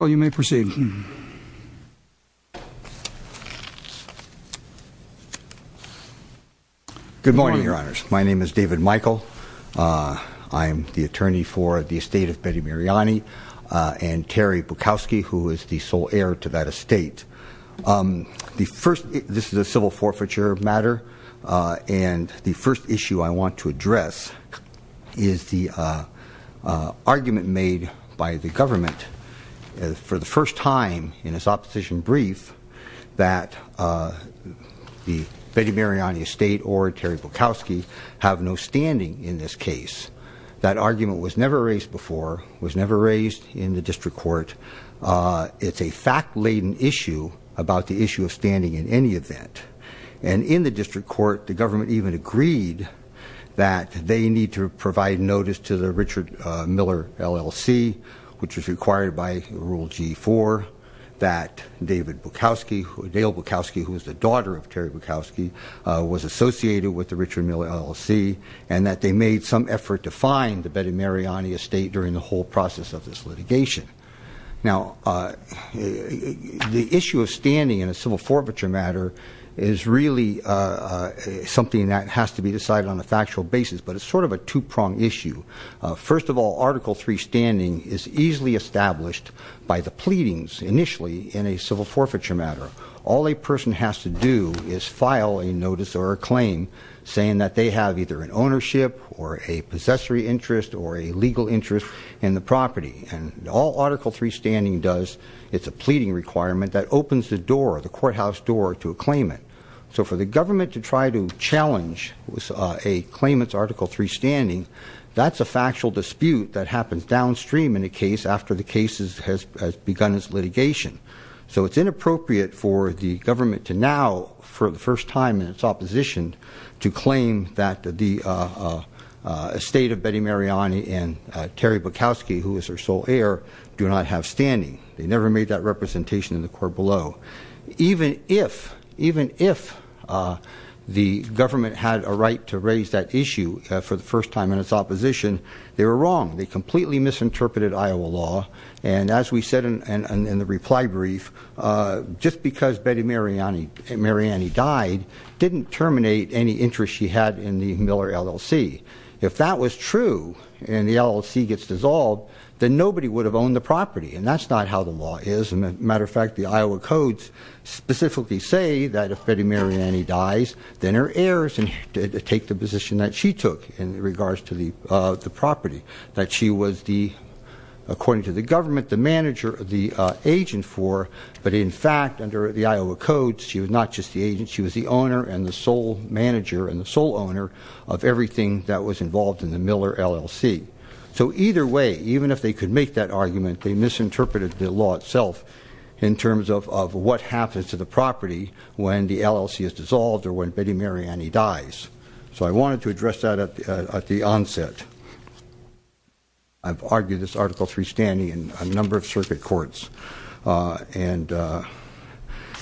Good morning, your honors. My name is David Michael. I am the attorney for the estate of Betty Mariani and Terri Bukowski, who is the sole heir to that estate. This is a civil forfeiture matter, and the first issue I want to address is the argument made by the government for the first time in its opposition brief that the Betty Mariani estate or Terri Bukowski have no standing in this case. That argument was never raised before, was never raised in the district court. It's a fact-laden issue about the issue of standing in any event. And in the district court, the government even agreed that they need to provide notice to the Richard Miller LLC, which is required by Rule G4, that David Bukowski, Dale Bukowski, who is the daughter of Terri Bukowski, was associated with the Richard Miller LLC, and that they made some effort to find the Betty Mariani estate during the whole process of this litigation. Now, the issue of standing in a civil forfeiture matter is really something that has to be decided on a factual basis, but it's sort of a two-pronged issue. First of all, Article III standing is easily established by the pleadings initially in a civil forfeiture matter. All a person has to do is file a notice or a claim saying that they have either an ownership or a possessory interest or a legal interest in the property. And all Article III standing does, it's a pleading requirement that opens the door, the courthouse door to claim it. So for the government to try to challenge a claimant's Article III standing, that's a factual dispute that happens downstream in a case after the case has begun its litigation. So it's inappropriate for the government to now, for the first time in its opposition, to claim that the estate of Betty Mariani and Terri Bukowski, who is her sole heir, do not have standing. They never made that representation in the court below. Even if, even if the government had a right to raise that issue for the first time in its opposition, they were wrong. They completely misinterpreted Iowa law. And as we said in the reply brief, just because Betty Mariani died didn't terminate any interest she had in the Miller LLC. If that was true and the LLC gets dissolved, then nobody would have owned the property. And that's not how the law is. As a matter of fact, the Iowa codes specifically say that if Betty Mariani dies, then her heirs take the position that she took in regards to the property that she was the, according to the government, the manager, the agent for. But in fact, under the Iowa codes, she was not just the agent, she was the owner and the sole owner of everything that was involved in the Miller LLC. So either way, even if they could make that argument, they misinterpreted the law itself in terms of what happens to the property when the LLC is dissolved or when Betty Mariani dies. So I wanted to address that at the onset. I've argued this Article 3 standing in a number of circuit courts. And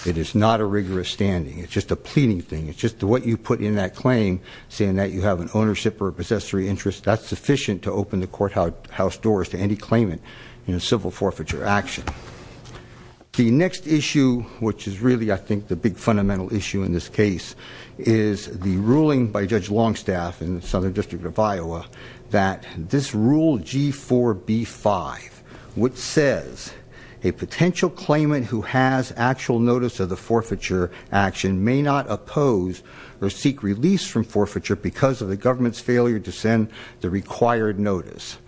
it is not a rigorous standing. It's just a pleading thing. It's just what you put in that claim, saying that you have an ownership or a possessory interest, that's sufficient to open the courthouse doors to any claimant in a civil forfeiture action. The next issue, which is really, I think, the big fundamental issue in this case, is the ruling by Judge Longstaff in the Southern District of Iowa that this Rule G4B5, which says a potential claimant who has actual notice of the forfeiture action may not oppose or be released from forfeiture because of the government's failure to send the required notice.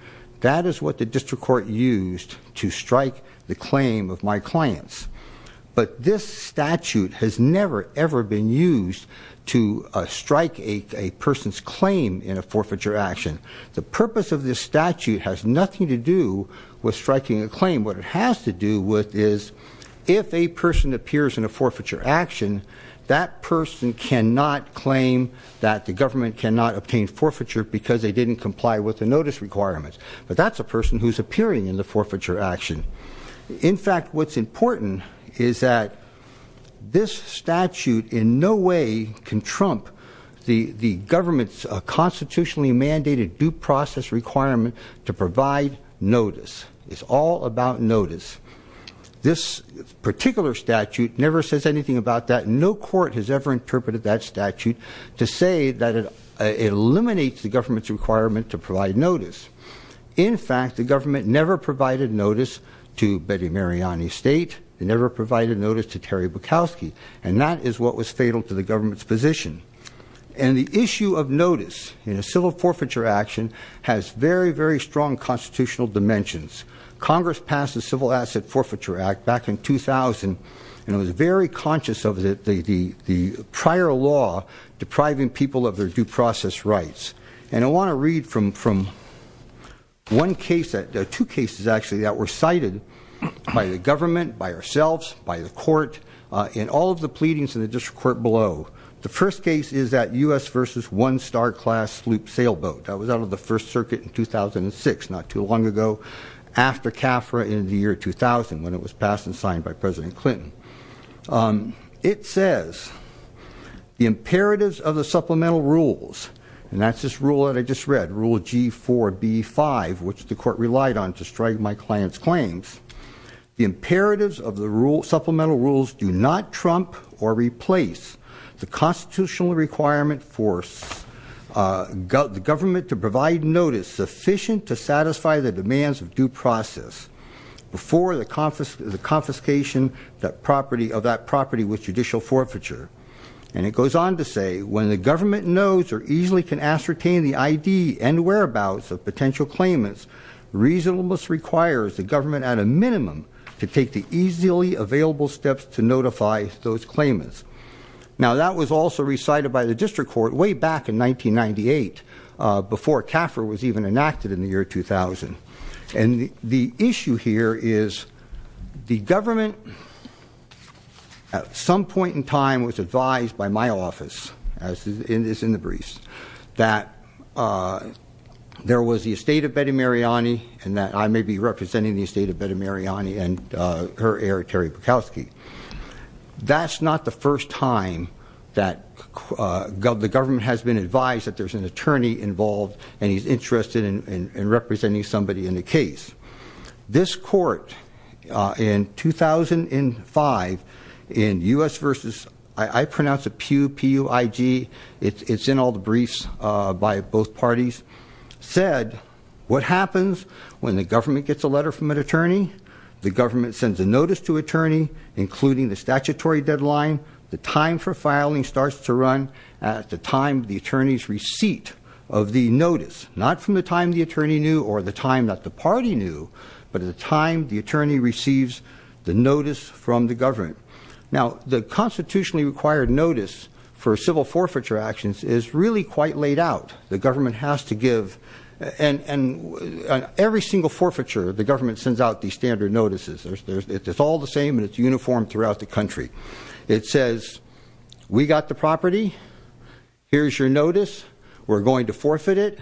That is what the district court used to strike the claim of my clients. But this statute has never, ever been used to strike a person's claim in a forfeiture action. The purpose of this statute has nothing to do with striking a claim. What it has to do with is, if a person appears in a forfeiture action, that person cannot claim that the government cannot obtain forfeiture because they didn't comply with the notice requirements. But that's a person who's appearing in the forfeiture action. In fact, what's important is that this statute in no way can trump the government's constitutionally mandated due process requirement to provide notice. It's all about notice. This particular statute never says anything about that. No court has ever interpreted that statute to say that it eliminates the government's requirement to provide notice. In fact, the government never provided notice to Betty Mariani State. It never provided notice to Terry Bukowski. And that is what was fatal to the government's position. And the issue of notice in a civil forfeiture action has very, very strong constitutional dimensions. Congress passed the Civil Asset Forfeiture Act back in 2000, and it was very conscious of the prior law depriving people of their due process rights. And I want to read from two cases actually that were cited by the government, by ourselves, by the court, and all of the pleadings in the district court below. The first case is that US versus one star class loop sailboat. That was out of the first circuit in 2006, not too long ago, after CAFRA in the year 2000, when it was passed and signed by President Clinton. It says, the imperatives of the supplemental rules, and that's this rule that I just read, rule G4B5, which the court relied on to strike my client's claims. The imperatives of the supplemental rules do not trump or permit to provide notice sufficient to satisfy the demands of due process before the confiscation of that property with judicial forfeiture. And it goes on to say, when the government knows or easily can ascertain the ID and whereabouts of potential claimants, reasonableness requires the government at a minimum to take the easily available steps to notify those claimants. Now that was also recited by the district court way back in 1998, before CAFRA was even enacted in the year 2000. And the issue here is the government at some point in time was advised by my office, as it is in the briefs, that there was the estate of Betty Mariani and that I may be representing the estate of Betty Mariani and her heir, Terry Bukowski. That's not the first time that the government has been advised that there's an attorney involved and he's interested in representing somebody in the case. This court in 2005, in US versus, I pronounce it PUIG. It's in all the briefs by both parties. Said, what happens when the government gets a letter from an attorney? The government sends a notice to attorney, including the statutory deadline. The time for filing starts to run at the time the attorney's receipt of the notice. Not from the time the attorney knew or the time that the party knew, but at the time the attorney receives the notice from the government. Now, the constitutionally required notice for civil forfeiture actions is really quite laid out. The government has to give, and every single forfeiture, the government sends out these standard notices. It's all the same and it's uniform throughout the country. It says, we got the property, here's your notice, we're going to forfeit it.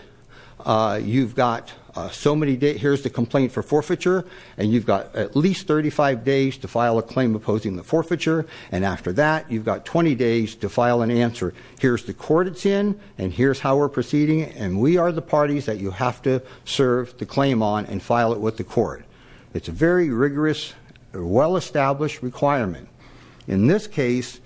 You've got so many days, here's the complaint for forfeiture, and you've got at least 35 days to file a claim opposing the forfeiture. And after that, you've got 20 days to file an answer. Here's the court it's in, and here's how we're proceeding, and we are the parties that you have to serve the claim on and file it with the court. It's a very rigorous, well-established requirement. In this case,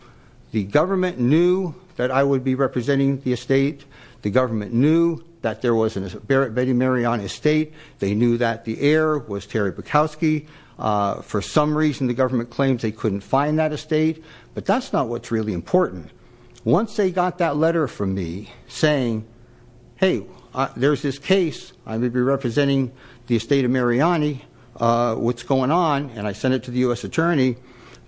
the government knew that I would be representing the estate. The government knew that there was a Betty Mariana estate. They knew that the heir was Terry Bukowski. For some reason, the government claims they couldn't find that estate, but that's not what's really important. Once they got that letter from me saying, hey, there's this case, I'm going to be representing the estate of Mariani, what's going on, and I sent it to the US attorney.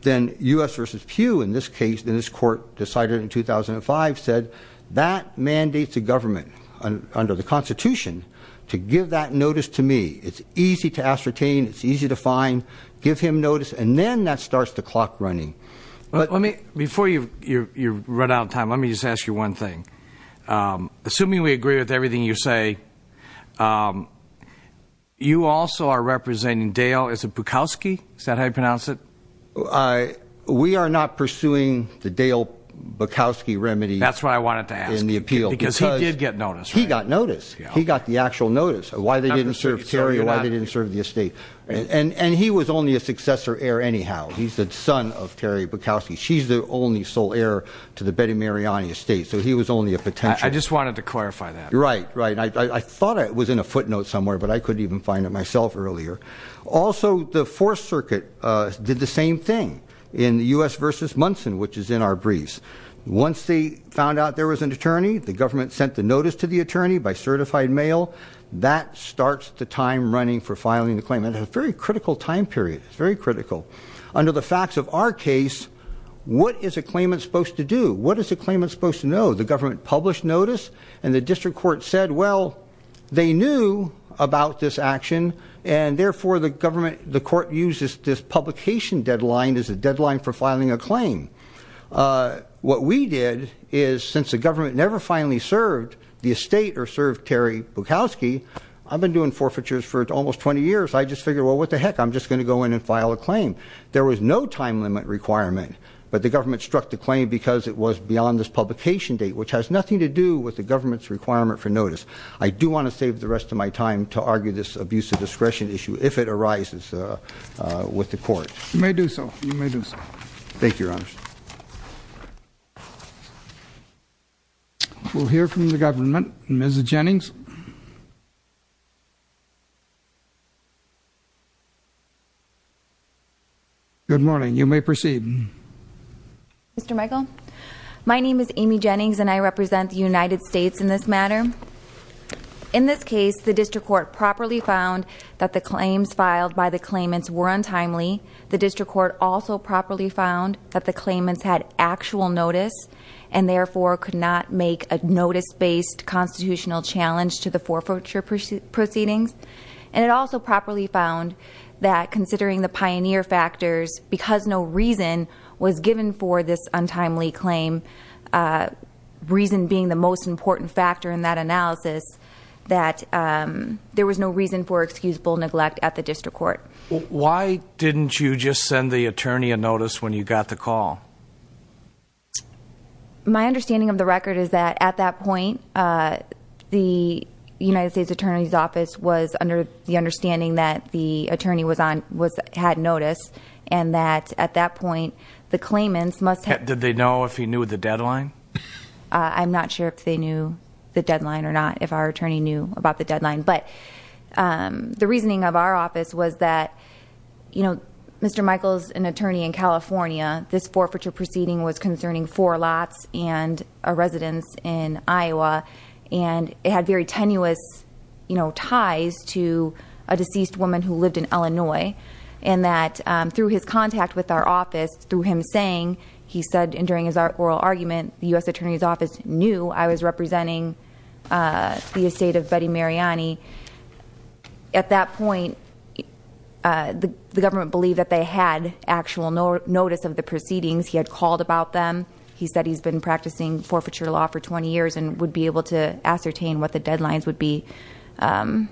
Then US versus Pew in this case, in this court decided in 2005 said, that mandates the government under the Constitution to give that notice to me. It's easy to ascertain, it's easy to find, give him notice, and then that starts the clock running. But let me, before you run out of time, let me just ask you one thing. Assuming we agree with everything you say, you also are representing Dale Bukowski, is that how you pronounce it? We are not pursuing the Dale Bukowski remedy. That's why I wanted to ask. In the appeal. Because he did get notice. He got notice. He got the actual notice of why they didn't serve Terry, why they didn't serve the estate. And he was only a successor heir anyhow. He's the son of Terry Bukowski. She's the only sole heir to the Betty Mariani estate. So he was only a potential- I just wanted to clarify that. Right, right. I thought it was in a footnote somewhere, but I couldn't even find it myself earlier. Also, the Fourth Circuit did the same thing in the US versus Munson, which is in our briefs. Once they found out there was an attorney, the government sent the notice to the attorney by certified mail. That starts the time running for filing the claim. And a very critical time period, it's very critical. Under the facts of our case, what is a claimant supposed to do? What is a claimant supposed to know? The government published notice, and the district court said, well, they knew about this action. And therefore, the court uses this publication deadline as a deadline for filing a claim. What we did is, since the government never finally served the estate or served Terry Bukowski, I've been doing forfeitures for almost 20 years, I just figured, well, what the heck, I'm just going to go in and file a claim. There was no time limit requirement, but the government struck the claim because it was beyond this publication date, which has nothing to do with the government's requirement for notice. I do want to save the rest of my time to argue this abuse of discretion issue, if it arises with the court. You may do so, you may do so. Thank you, Your Honor. We'll hear from the government, Ms. Jennings. Good morning, you may proceed. Mr. Michael, my name is Amy Jennings and I represent the United States in this matter. In this case, the district court properly found that the claims filed by the claimants were untimely. The district court also properly found that the claimants had actual notice and therefore could not make a notice-based constitutional challenge to the forfeiture proceedings. And it also properly found that considering the pioneer factors, because no reason was given for this untimely claim, reason being the most important factor in that analysis, that there was no reason for excusable neglect at the district court. Why didn't you just send the attorney a notice when you got the call? My understanding of the record is that at that point, the United States Attorney's Office was under the understanding that the attorney had notice, and that at that point, the claimants must have- Did they know if he knew the deadline? I'm not sure if they knew the deadline or not, if our attorney knew about the deadline. But the reasoning of our office was that Mr. Michaels, an attorney in California, this forfeiture proceeding was concerning four lots and a residence in Iowa. And it had very tenuous ties to a deceased woman who lived in Illinois. And that through his contact with our office, through him saying, he said during his oral argument, the US Attorney's Office knew I was representing the estate of Betty Mariani. At that point, the government believed that they had actual notice of the proceedings. He had called about them. He said he's been practicing forfeiture law for 20 years and would be able to ascertain what the deadlines would be at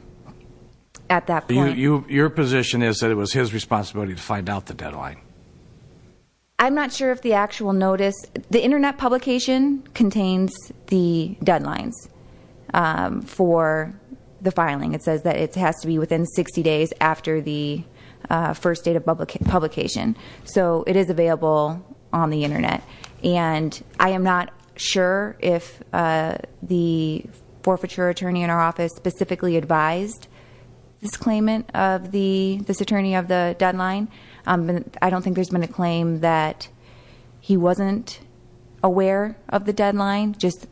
that point. Your position is that it was his responsibility to find out the deadline? I'm not sure if the actual notice. The Internet publication contains the deadlines for the filing. It says that it has to be within 60 days after the first date of publication. So it is available on the Internet. And I am not sure if the forfeiture attorney in our office specifically advised this claimant of the, this attorney of the deadline. I don't think there's been a claim that he wasn't aware of the deadline. Just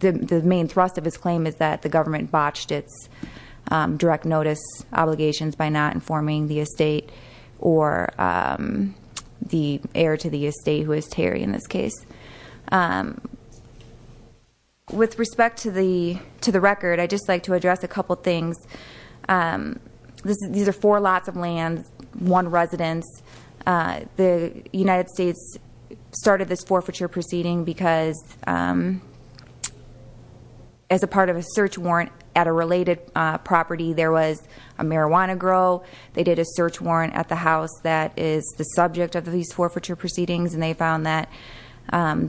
the main thrust of his claim is that the government botched its direct notice obligations by not informing the estate or the heir to the estate, who is Terry in this case. With respect to the record, I'd just like to address a couple things. These are four lots of land, one residence. The United States started this forfeiture proceeding because as a part of a search warrant at a related property, there was a marijuana grow. They did a search warrant at the house that is the subject of these forfeiture proceedings and they found that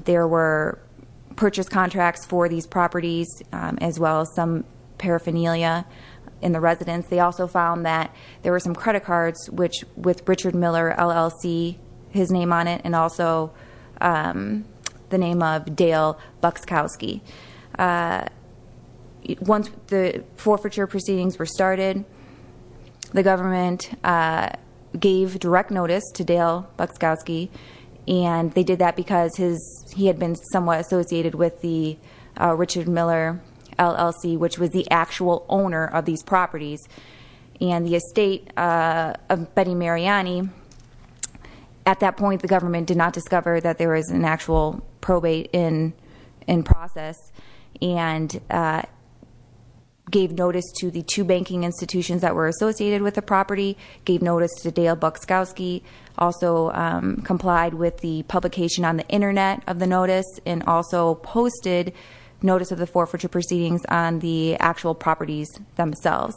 there were purchase contracts for these properties as well as some paraphernalia in the residence. They also found that there were some credit cards with Richard Miller LLC, his name on it, and also the name of Dale Buxkowski. Once the forfeiture proceedings were started, the government gave direct notice to Dale Buxkowski. And they did that because he had been somewhat associated with the Richard Miller LLC, which was the actual owner of these properties, and the estate of Betty Mariani. At that point, the government did not discover that there was an actual probate in process and gave notice to the two banking institutions that were associated with the property, gave notice to Dale Buxkowski. Also complied with the publication on the Internet of the notice and also posted notice of the forfeiture proceedings on the actual properties themselves.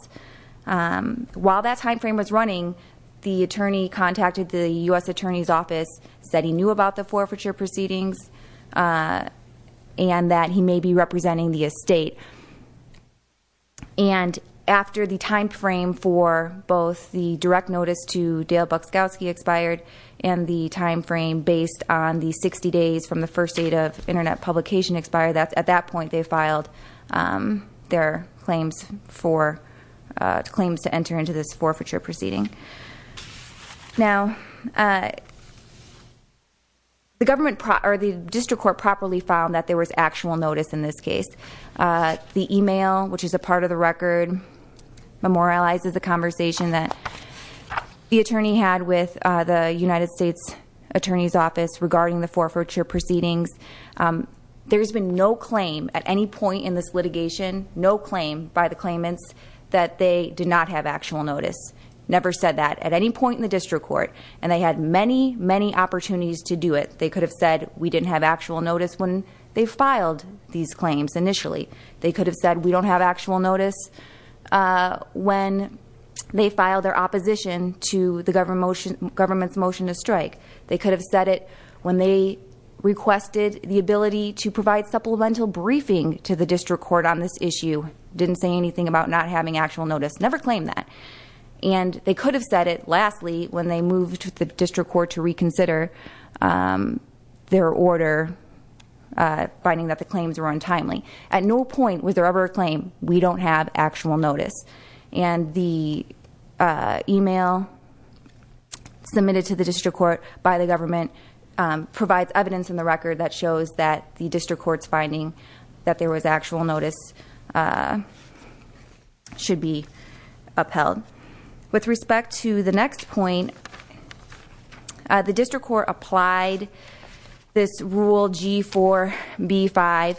While that time frame was running, the attorney contacted the US Attorney's Office, said he knew about the forfeiture proceedings and that he may be representing the estate. And after the time frame for both the direct notice to Dale Buxkowski expired and the time frame based on the 60 days from the first date of Internet publication expired, at that point they filed their claims to enter into this forfeiture proceeding. Now, the district court properly found that there was actual notice in this case. The email, which is a part of the record, memorializes the conversation that the attorney had with the United States Attorney's Office regarding the forfeiture proceedings. There's been no claim at any point in this litigation, no claim by the claimants, that they did not have actual notice. Never said that at any point in the district court. And they had many, many opportunities to do it. They could have said we didn't have actual notice when they filed these claims initially. They could have said we don't have actual notice when they filed their opposition to the government's motion to strike. They could have said it when they requested the ability to provide supplemental briefing to the district court on this issue. Didn't say anything about not having actual notice. Never claimed that. And they could have said it, lastly, when they moved to the district court to reconsider their order, finding that the claims were untimely, at no point was there ever a claim, we don't have actual notice. And the email submitted to the district court by the government provides evidence in the record that shows that the district court's finding that there was actual notice should be upheld. With respect to the next point, the district court applied this rule G4B5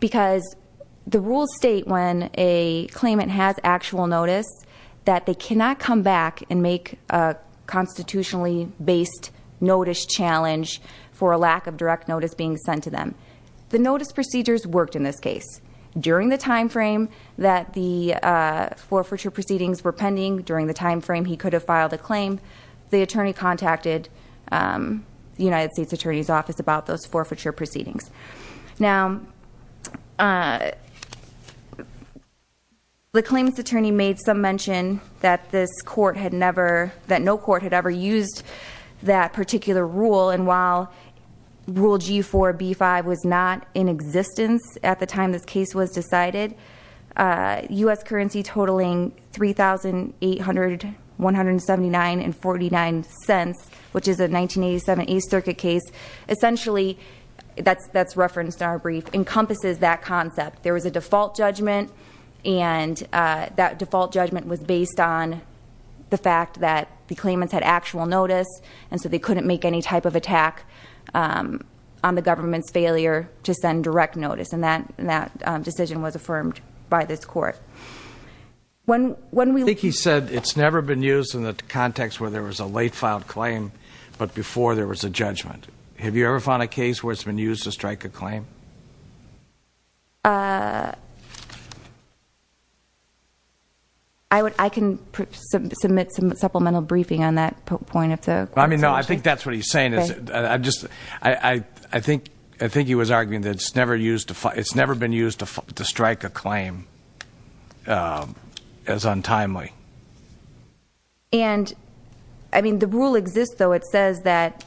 because the rules state when a claimant has actual notice, that they cannot come back and make a constitutionally based notice challenge for a lack of direct notice being sent to them. The notice procedures worked in this case. During the time frame that the forfeiture proceedings were pending, during the time frame he could have filed a claim, the attorney contacted the United States Attorney's Office about those forfeiture proceedings. Now, the claim's attorney made some mention that this court had never, that no court had ever used that particular rule, and while rule G4B5 was not in existence at the time this case was decided, US currency totaling 3,800, 179, and 49 cents, which is a 1987 East Circuit case. Essentially, that's referenced in our brief, encompasses that concept. There was a default judgment, and that default judgment was based on the fact that the claimants had actual notice, and so they couldn't make any type of attack on the government's failure to send direct notice, and that decision was affirmed by this court. When we- I think he said it's never been used in the context where there was a late filed claim, but before there was a judgment. Have you ever found a case where it's been used to strike a claim? I can submit some supplemental briefing on that point if the- I mean, no, I think that's what he's saying is, I think he was arguing that it's never been used to strike a claim as untimely. And, I mean, the rule exists, though. It says that,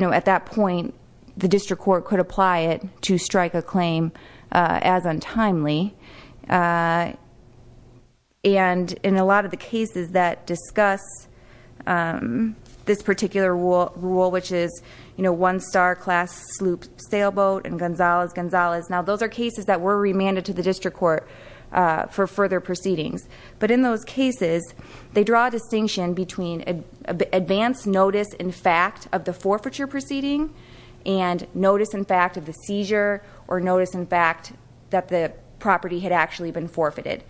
at that point, the district court could apply it to strike a claim as untimely. And in a lot of the cases that discuss this particular rule, which is one star class sloop sailboat and Gonzalez, Gonzalez. Now, those are cases that were remanded to the district court for further proceedings. But in those cases, they draw a distinction between advance notice in fact of the forfeiture proceeding. And notice in fact of the seizure, or notice in fact that the property had actually been forfeited.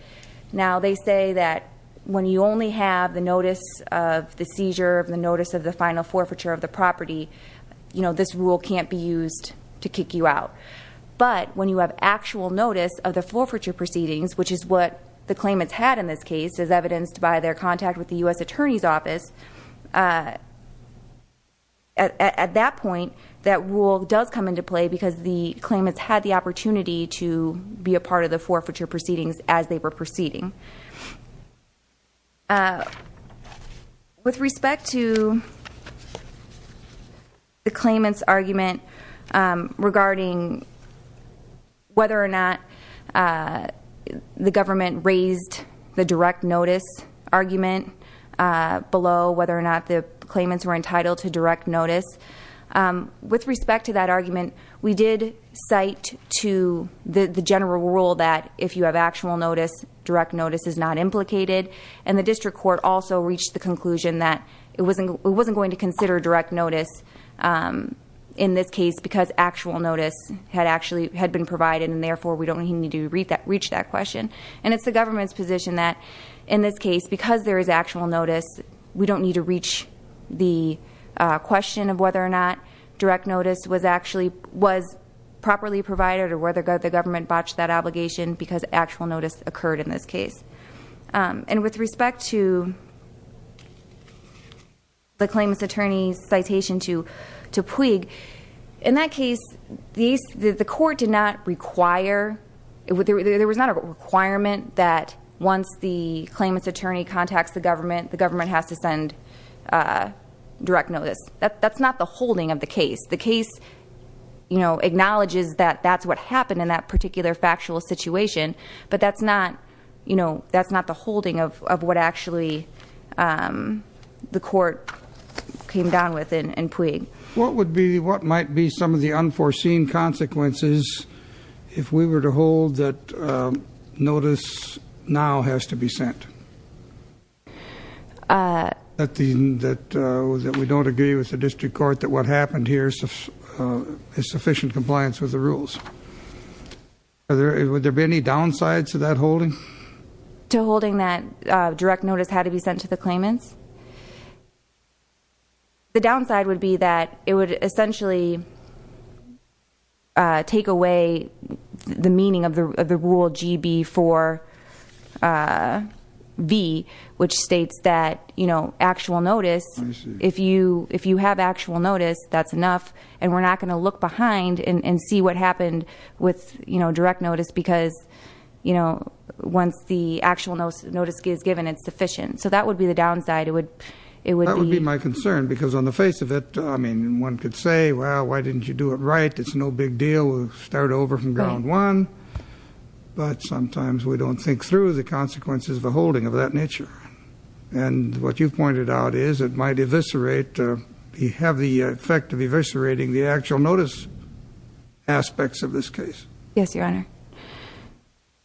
Now, they say that when you only have the notice of the seizure, the notice of the final forfeiture of the property, this rule can't be used to kick you out. But when you have actual notice of the forfeiture proceedings, which is what the claimants had in this case, as evidenced by their contact with the US Attorney's Office, at that point, that rule does come into play because the claimants had the opportunity to be a part of the forfeiture proceedings as they were proceeding. With respect to the claimant's argument regarding whether or not the government raised the direct notice argument below whether or not the claimants were entitled to direct notice. With respect to that argument, we did cite to the general rule that if you have actual notice, direct notice is not implicated, and the district court also reached the conclusion that it wasn't going to consider direct notice in this case because actual notice had been provided and therefore we don't need to reach that question. And it's the government's position that in this case, because there is actual notice, we don't need to reach the question of whether or not direct notice was actually, was properly provided or whether the government botched that obligation because actual notice occurred in this case. And with respect to the claimant's attorney's citation to Puig, in that case, the court did not require, there was not a requirement that once the claimant's attorney contacts the government, the government has to send direct notice. That's not the holding of the case. The case acknowledges that that's what happened in that particular factual situation, but that's not the holding of what actually the court came down with in Puig. What would be, what might be some of the unforeseen consequences if we were to hold that notice now has to be sent? That we don't agree with the district court that what happened here is sufficient compliance with the rules. Would there be any downsides to that holding? To holding that direct notice had to be sent to the claimants? The downside would be that it would essentially take away the meaning of the rule GB4B, which states that actual notice. If you have actual notice, that's enough. And we're not going to look behind and see what happened with direct notice, because once the actual notice is given, it's sufficient. So that would be the downside, it would be- That would be my concern, because on the face of it, one could say, well, why didn't you do it right? It's no big deal, we'll start over from ground one. But sometimes we don't think through the consequences of a holding of that nature. And what you've pointed out is it might eviscerate, you have the effect of eviscerating the actual notice aspects of this case. Yes, your honor.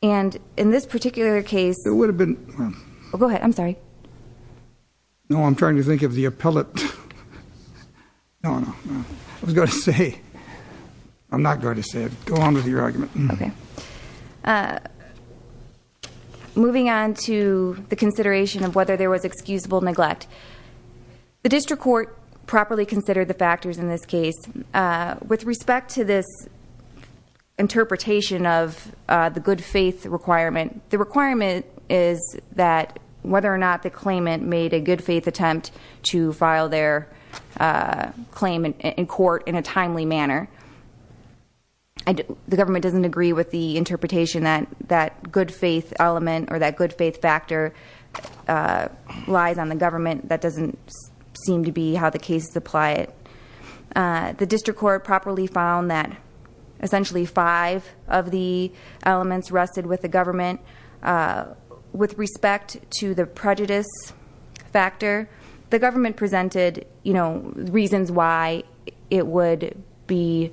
And in this particular case- It would have been- Go ahead, I'm sorry. No, I'm trying to think of the appellate. No, no, I was going to say, I'm not going to say it. Go on with your argument. Okay. Moving on to the consideration of whether there was excusable neglect. The district court properly considered the factors in this case. With respect to this interpretation of the good faith requirement, the requirement is that whether or not the claimant made a good faith attempt to file their claim in court in a timely manner. The government doesn't agree with the interpretation that that good faith element or that good faith factor lies on the government. That doesn't seem to be how the cases apply it. The district court properly found that essentially five of the elements rusted with the government. With respect to the prejudice factor, the government presented reasons why it would be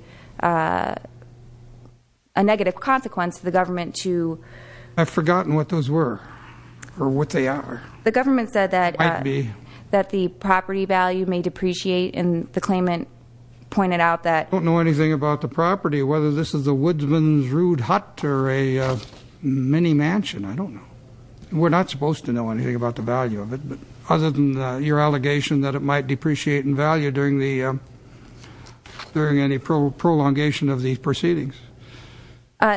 a negative consequence to the government to- I've forgotten what those were, or what they are. The government said that the property value may depreciate, and the claimant pointed out that- Don't know anything about the property, whether this is a woodsman's rude hut or a mini mansion, I don't know. We're not supposed to know anything about the value of it, but other than your allegation that it might depreciate in value during any prolongation of these proceedings.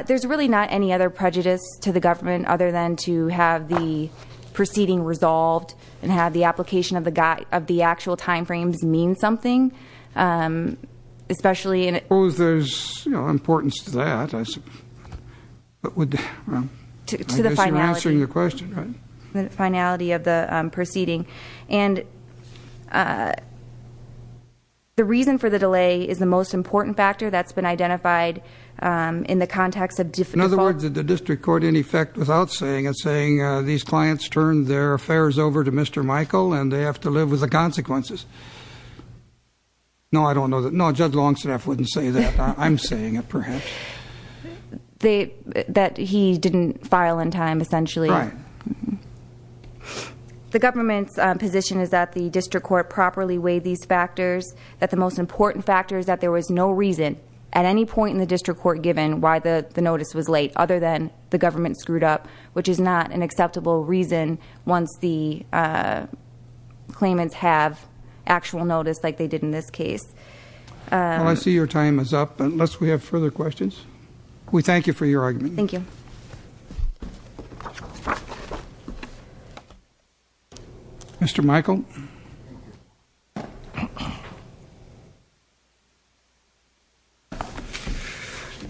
There's really not any other prejudice to the government other than to have the proceeding resolved and have the application of the actual time frames mean something, especially in- I suppose there's importance to that, but I guess you're answering the question, right? The finality of the proceeding. And the reason for the delay is the most important factor that's been identified in the context of- In other words, did the district court, in effect, without saying it, saying these clients turned their affairs over to Mr. Michael and they have to live with the consequences? No, I don't know that. No, Judge Longstaff wouldn't say that. I'm saying it, perhaps. That he didn't file in time, essentially. Right. The government's position is that the district court properly weighed these factors, that the most important factor is that there was no reason at any point in the district court given why the notice was late, other than the government screwed up, which is not an acceptable reason once the I see your time is up, unless we have further questions. We thank you for your argument. Thank you. Mr. Michael.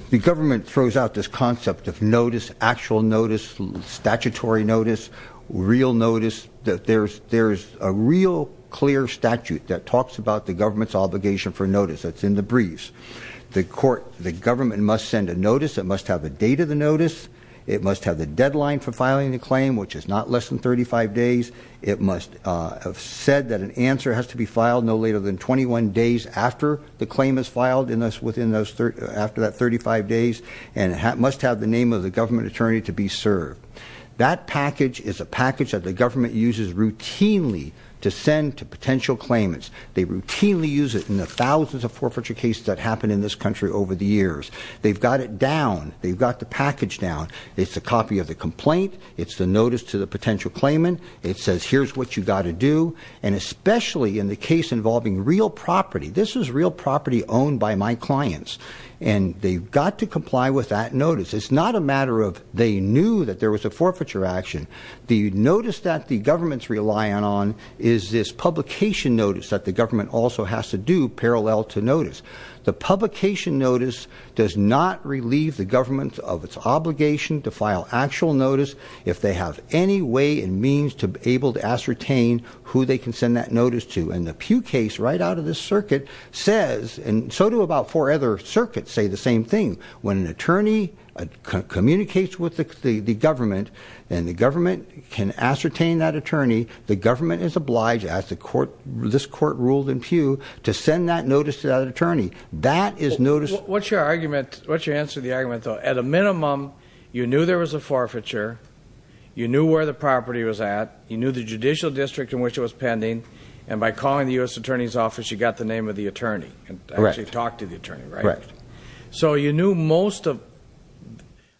The government throws out this concept of notice, actual notice, statutory notice, real notice, that there's a real clear statute that talks about the government's obligation for notice. It's in the briefs. The court, the government must send a notice. It must have a date of the notice. It must have the deadline for filing the claim, which is not less than 35 days. It must have said that an answer has to be filed no later than 21 days after the claim is filed after that 35 days, and it must have the name of the government attorney to be served. That package is a package that the government uses routinely to send to potential claimants. They routinely use it in the thousands of forfeiture cases that happen in this country over the years. They've got it down. They've got the package down. It's a copy of the complaint. It's the notice to the potential claimant. It says here's what you gotta do. And especially in the case involving real property, this is real property owned by my clients. And they've got to comply with that notice. It's not a matter of they knew that there was a forfeiture action. The notice that the government's relying on is this publication notice that the government also has to do parallel to notice. The publication notice does not relieve the government of its obligation to file actual notice if they have any way and means to be able to ascertain who they can send that notice to. And the Pew case right out of this circuit says, and so do about four other circuits say the same thing. When an attorney communicates with the government, and the government can ascertain that attorney, the government is obliged, as this court ruled in Pew, to send that notice to that attorney. That is notice- What's your answer to the argument though? At a minimum, you knew there was a forfeiture. You knew where the property was at. You knew the judicial district in which it was pending. And by calling the US Attorney's Office, you got the name of the attorney, and actually talked to the attorney, right? Correct. So you knew most of,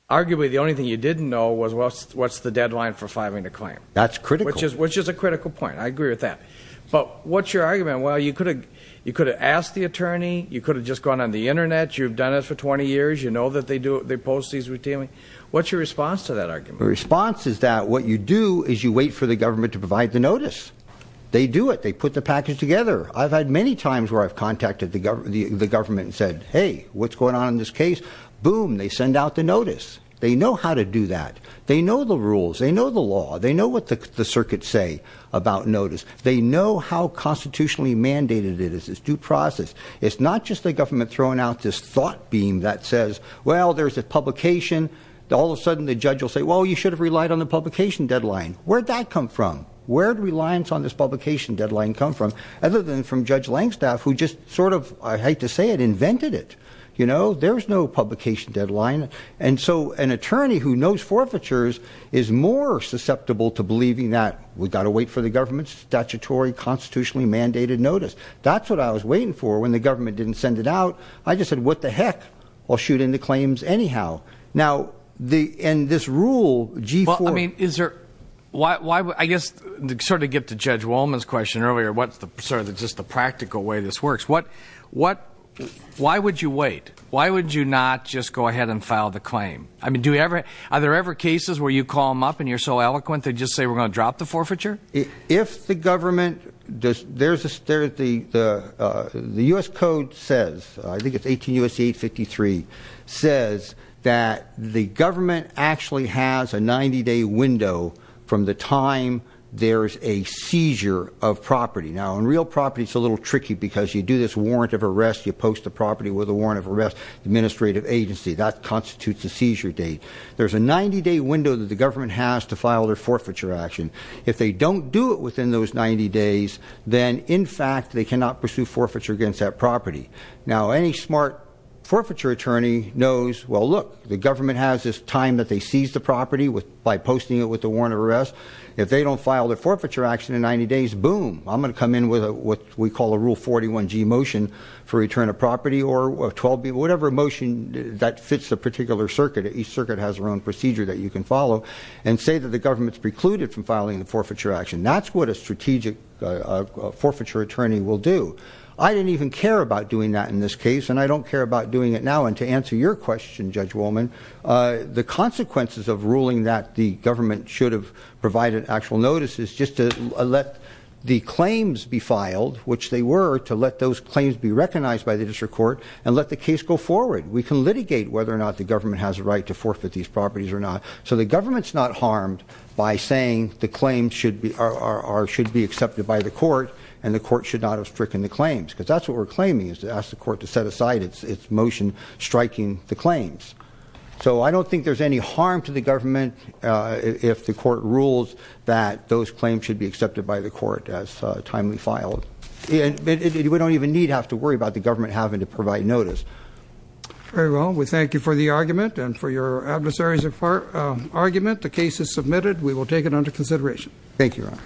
arguably the only thing you didn't know was what's the deadline for filing a claim. That's critical. Which is a critical point, I agree with that. But what's your argument? Well, you could have asked the attorney, you could have just gone on the Internet, you've done it for 20 years, you know that they post these routinely. What's your response to that argument? The response is that what you do is you wait for the government to provide the notice. They do it, they put the package together. I've had many times where I've contacted the government and said, hey, what's going on in this case? Boom, they send out the notice. They know how to do that. They know the rules, they know the law, they know what the circuits say about notice. They know how constitutionally mandated it is, it's due process. It's not just the government throwing out this thought beam that says, well, there's a publication. All of a sudden, the judge will say, well, you should have relied on the publication deadline. Where'd that come from? Where'd reliance on this publication deadline come from? Other than from Judge Langstaff, who just sort of, I hate to say it, invented it. You know, there's no publication deadline. And so an attorney who knows forfeitures is more susceptible to believing that we've got to wait for the government's statutory constitutionally mandated notice, that's what I was waiting for when the government didn't send it out. I just said, what the heck? I'll shoot in the claims anyhow. Now, and this rule, G4- I guess, to sort of get to Judge Wolman's question earlier, what's sort of just the practical way this works. Why would you wait? Why would you not just go ahead and file the claim? I mean, are there ever cases where you call them up and you're so eloquent, they just say, we're going to drop the forfeiture? If the government, the US code says, I think it's 18 U.S.C. 853, says that the government actually has a 90 day window from the time there's a seizure of property. Now, in real property, it's a little tricky, because you do this warrant of arrest, you post the property with a warrant of arrest. Administrative agency, that constitutes a seizure date. There's a 90 day window that the government has to file their forfeiture action. If they don't do it within those 90 days, then in fact, they cannot pursue forfeiture against that property. Now, any smart forfeiture attorney knows, well look, the government has this time that they seize the property by posting it with a warrant of arrest. If they don't file their forfeiture action in 90 days, boom, I'm going to come in with what we call a rule 41G motion for return of property or 12B, whatever motion that fits a particular circuit. Each circuit has their own procedure that you can follow and say that the government's precluded from filing the forfeiture action. That's what a strategic forfeiture attorney will do. I didn't even care about doing that in this case, and I don't care about doing it now. And to answer your question, Judge Wolman, the consequences of ruling that the government should have provided actual notices just to let the claims be filed, which they were, to let those claims be recognized by the district court, and let the case go forward. We can litigate whether or not the government has a right to forfeit these properties or not. So the government's not harmed by saying the claims should be accepted by the court, and the court should not have stricken the claims, because that's what we're claiming, is to ask the court to set aside its motion striking the claims. So I don't think there's any harm to the government if the court rules that those claims should be accepted by the court as timely filed. And we don't even need to have to worry about the government having to provide notice. Very well, we thank you for the argument and for your adversaries of our argument. The case is submitted. Thank you, Your Honor.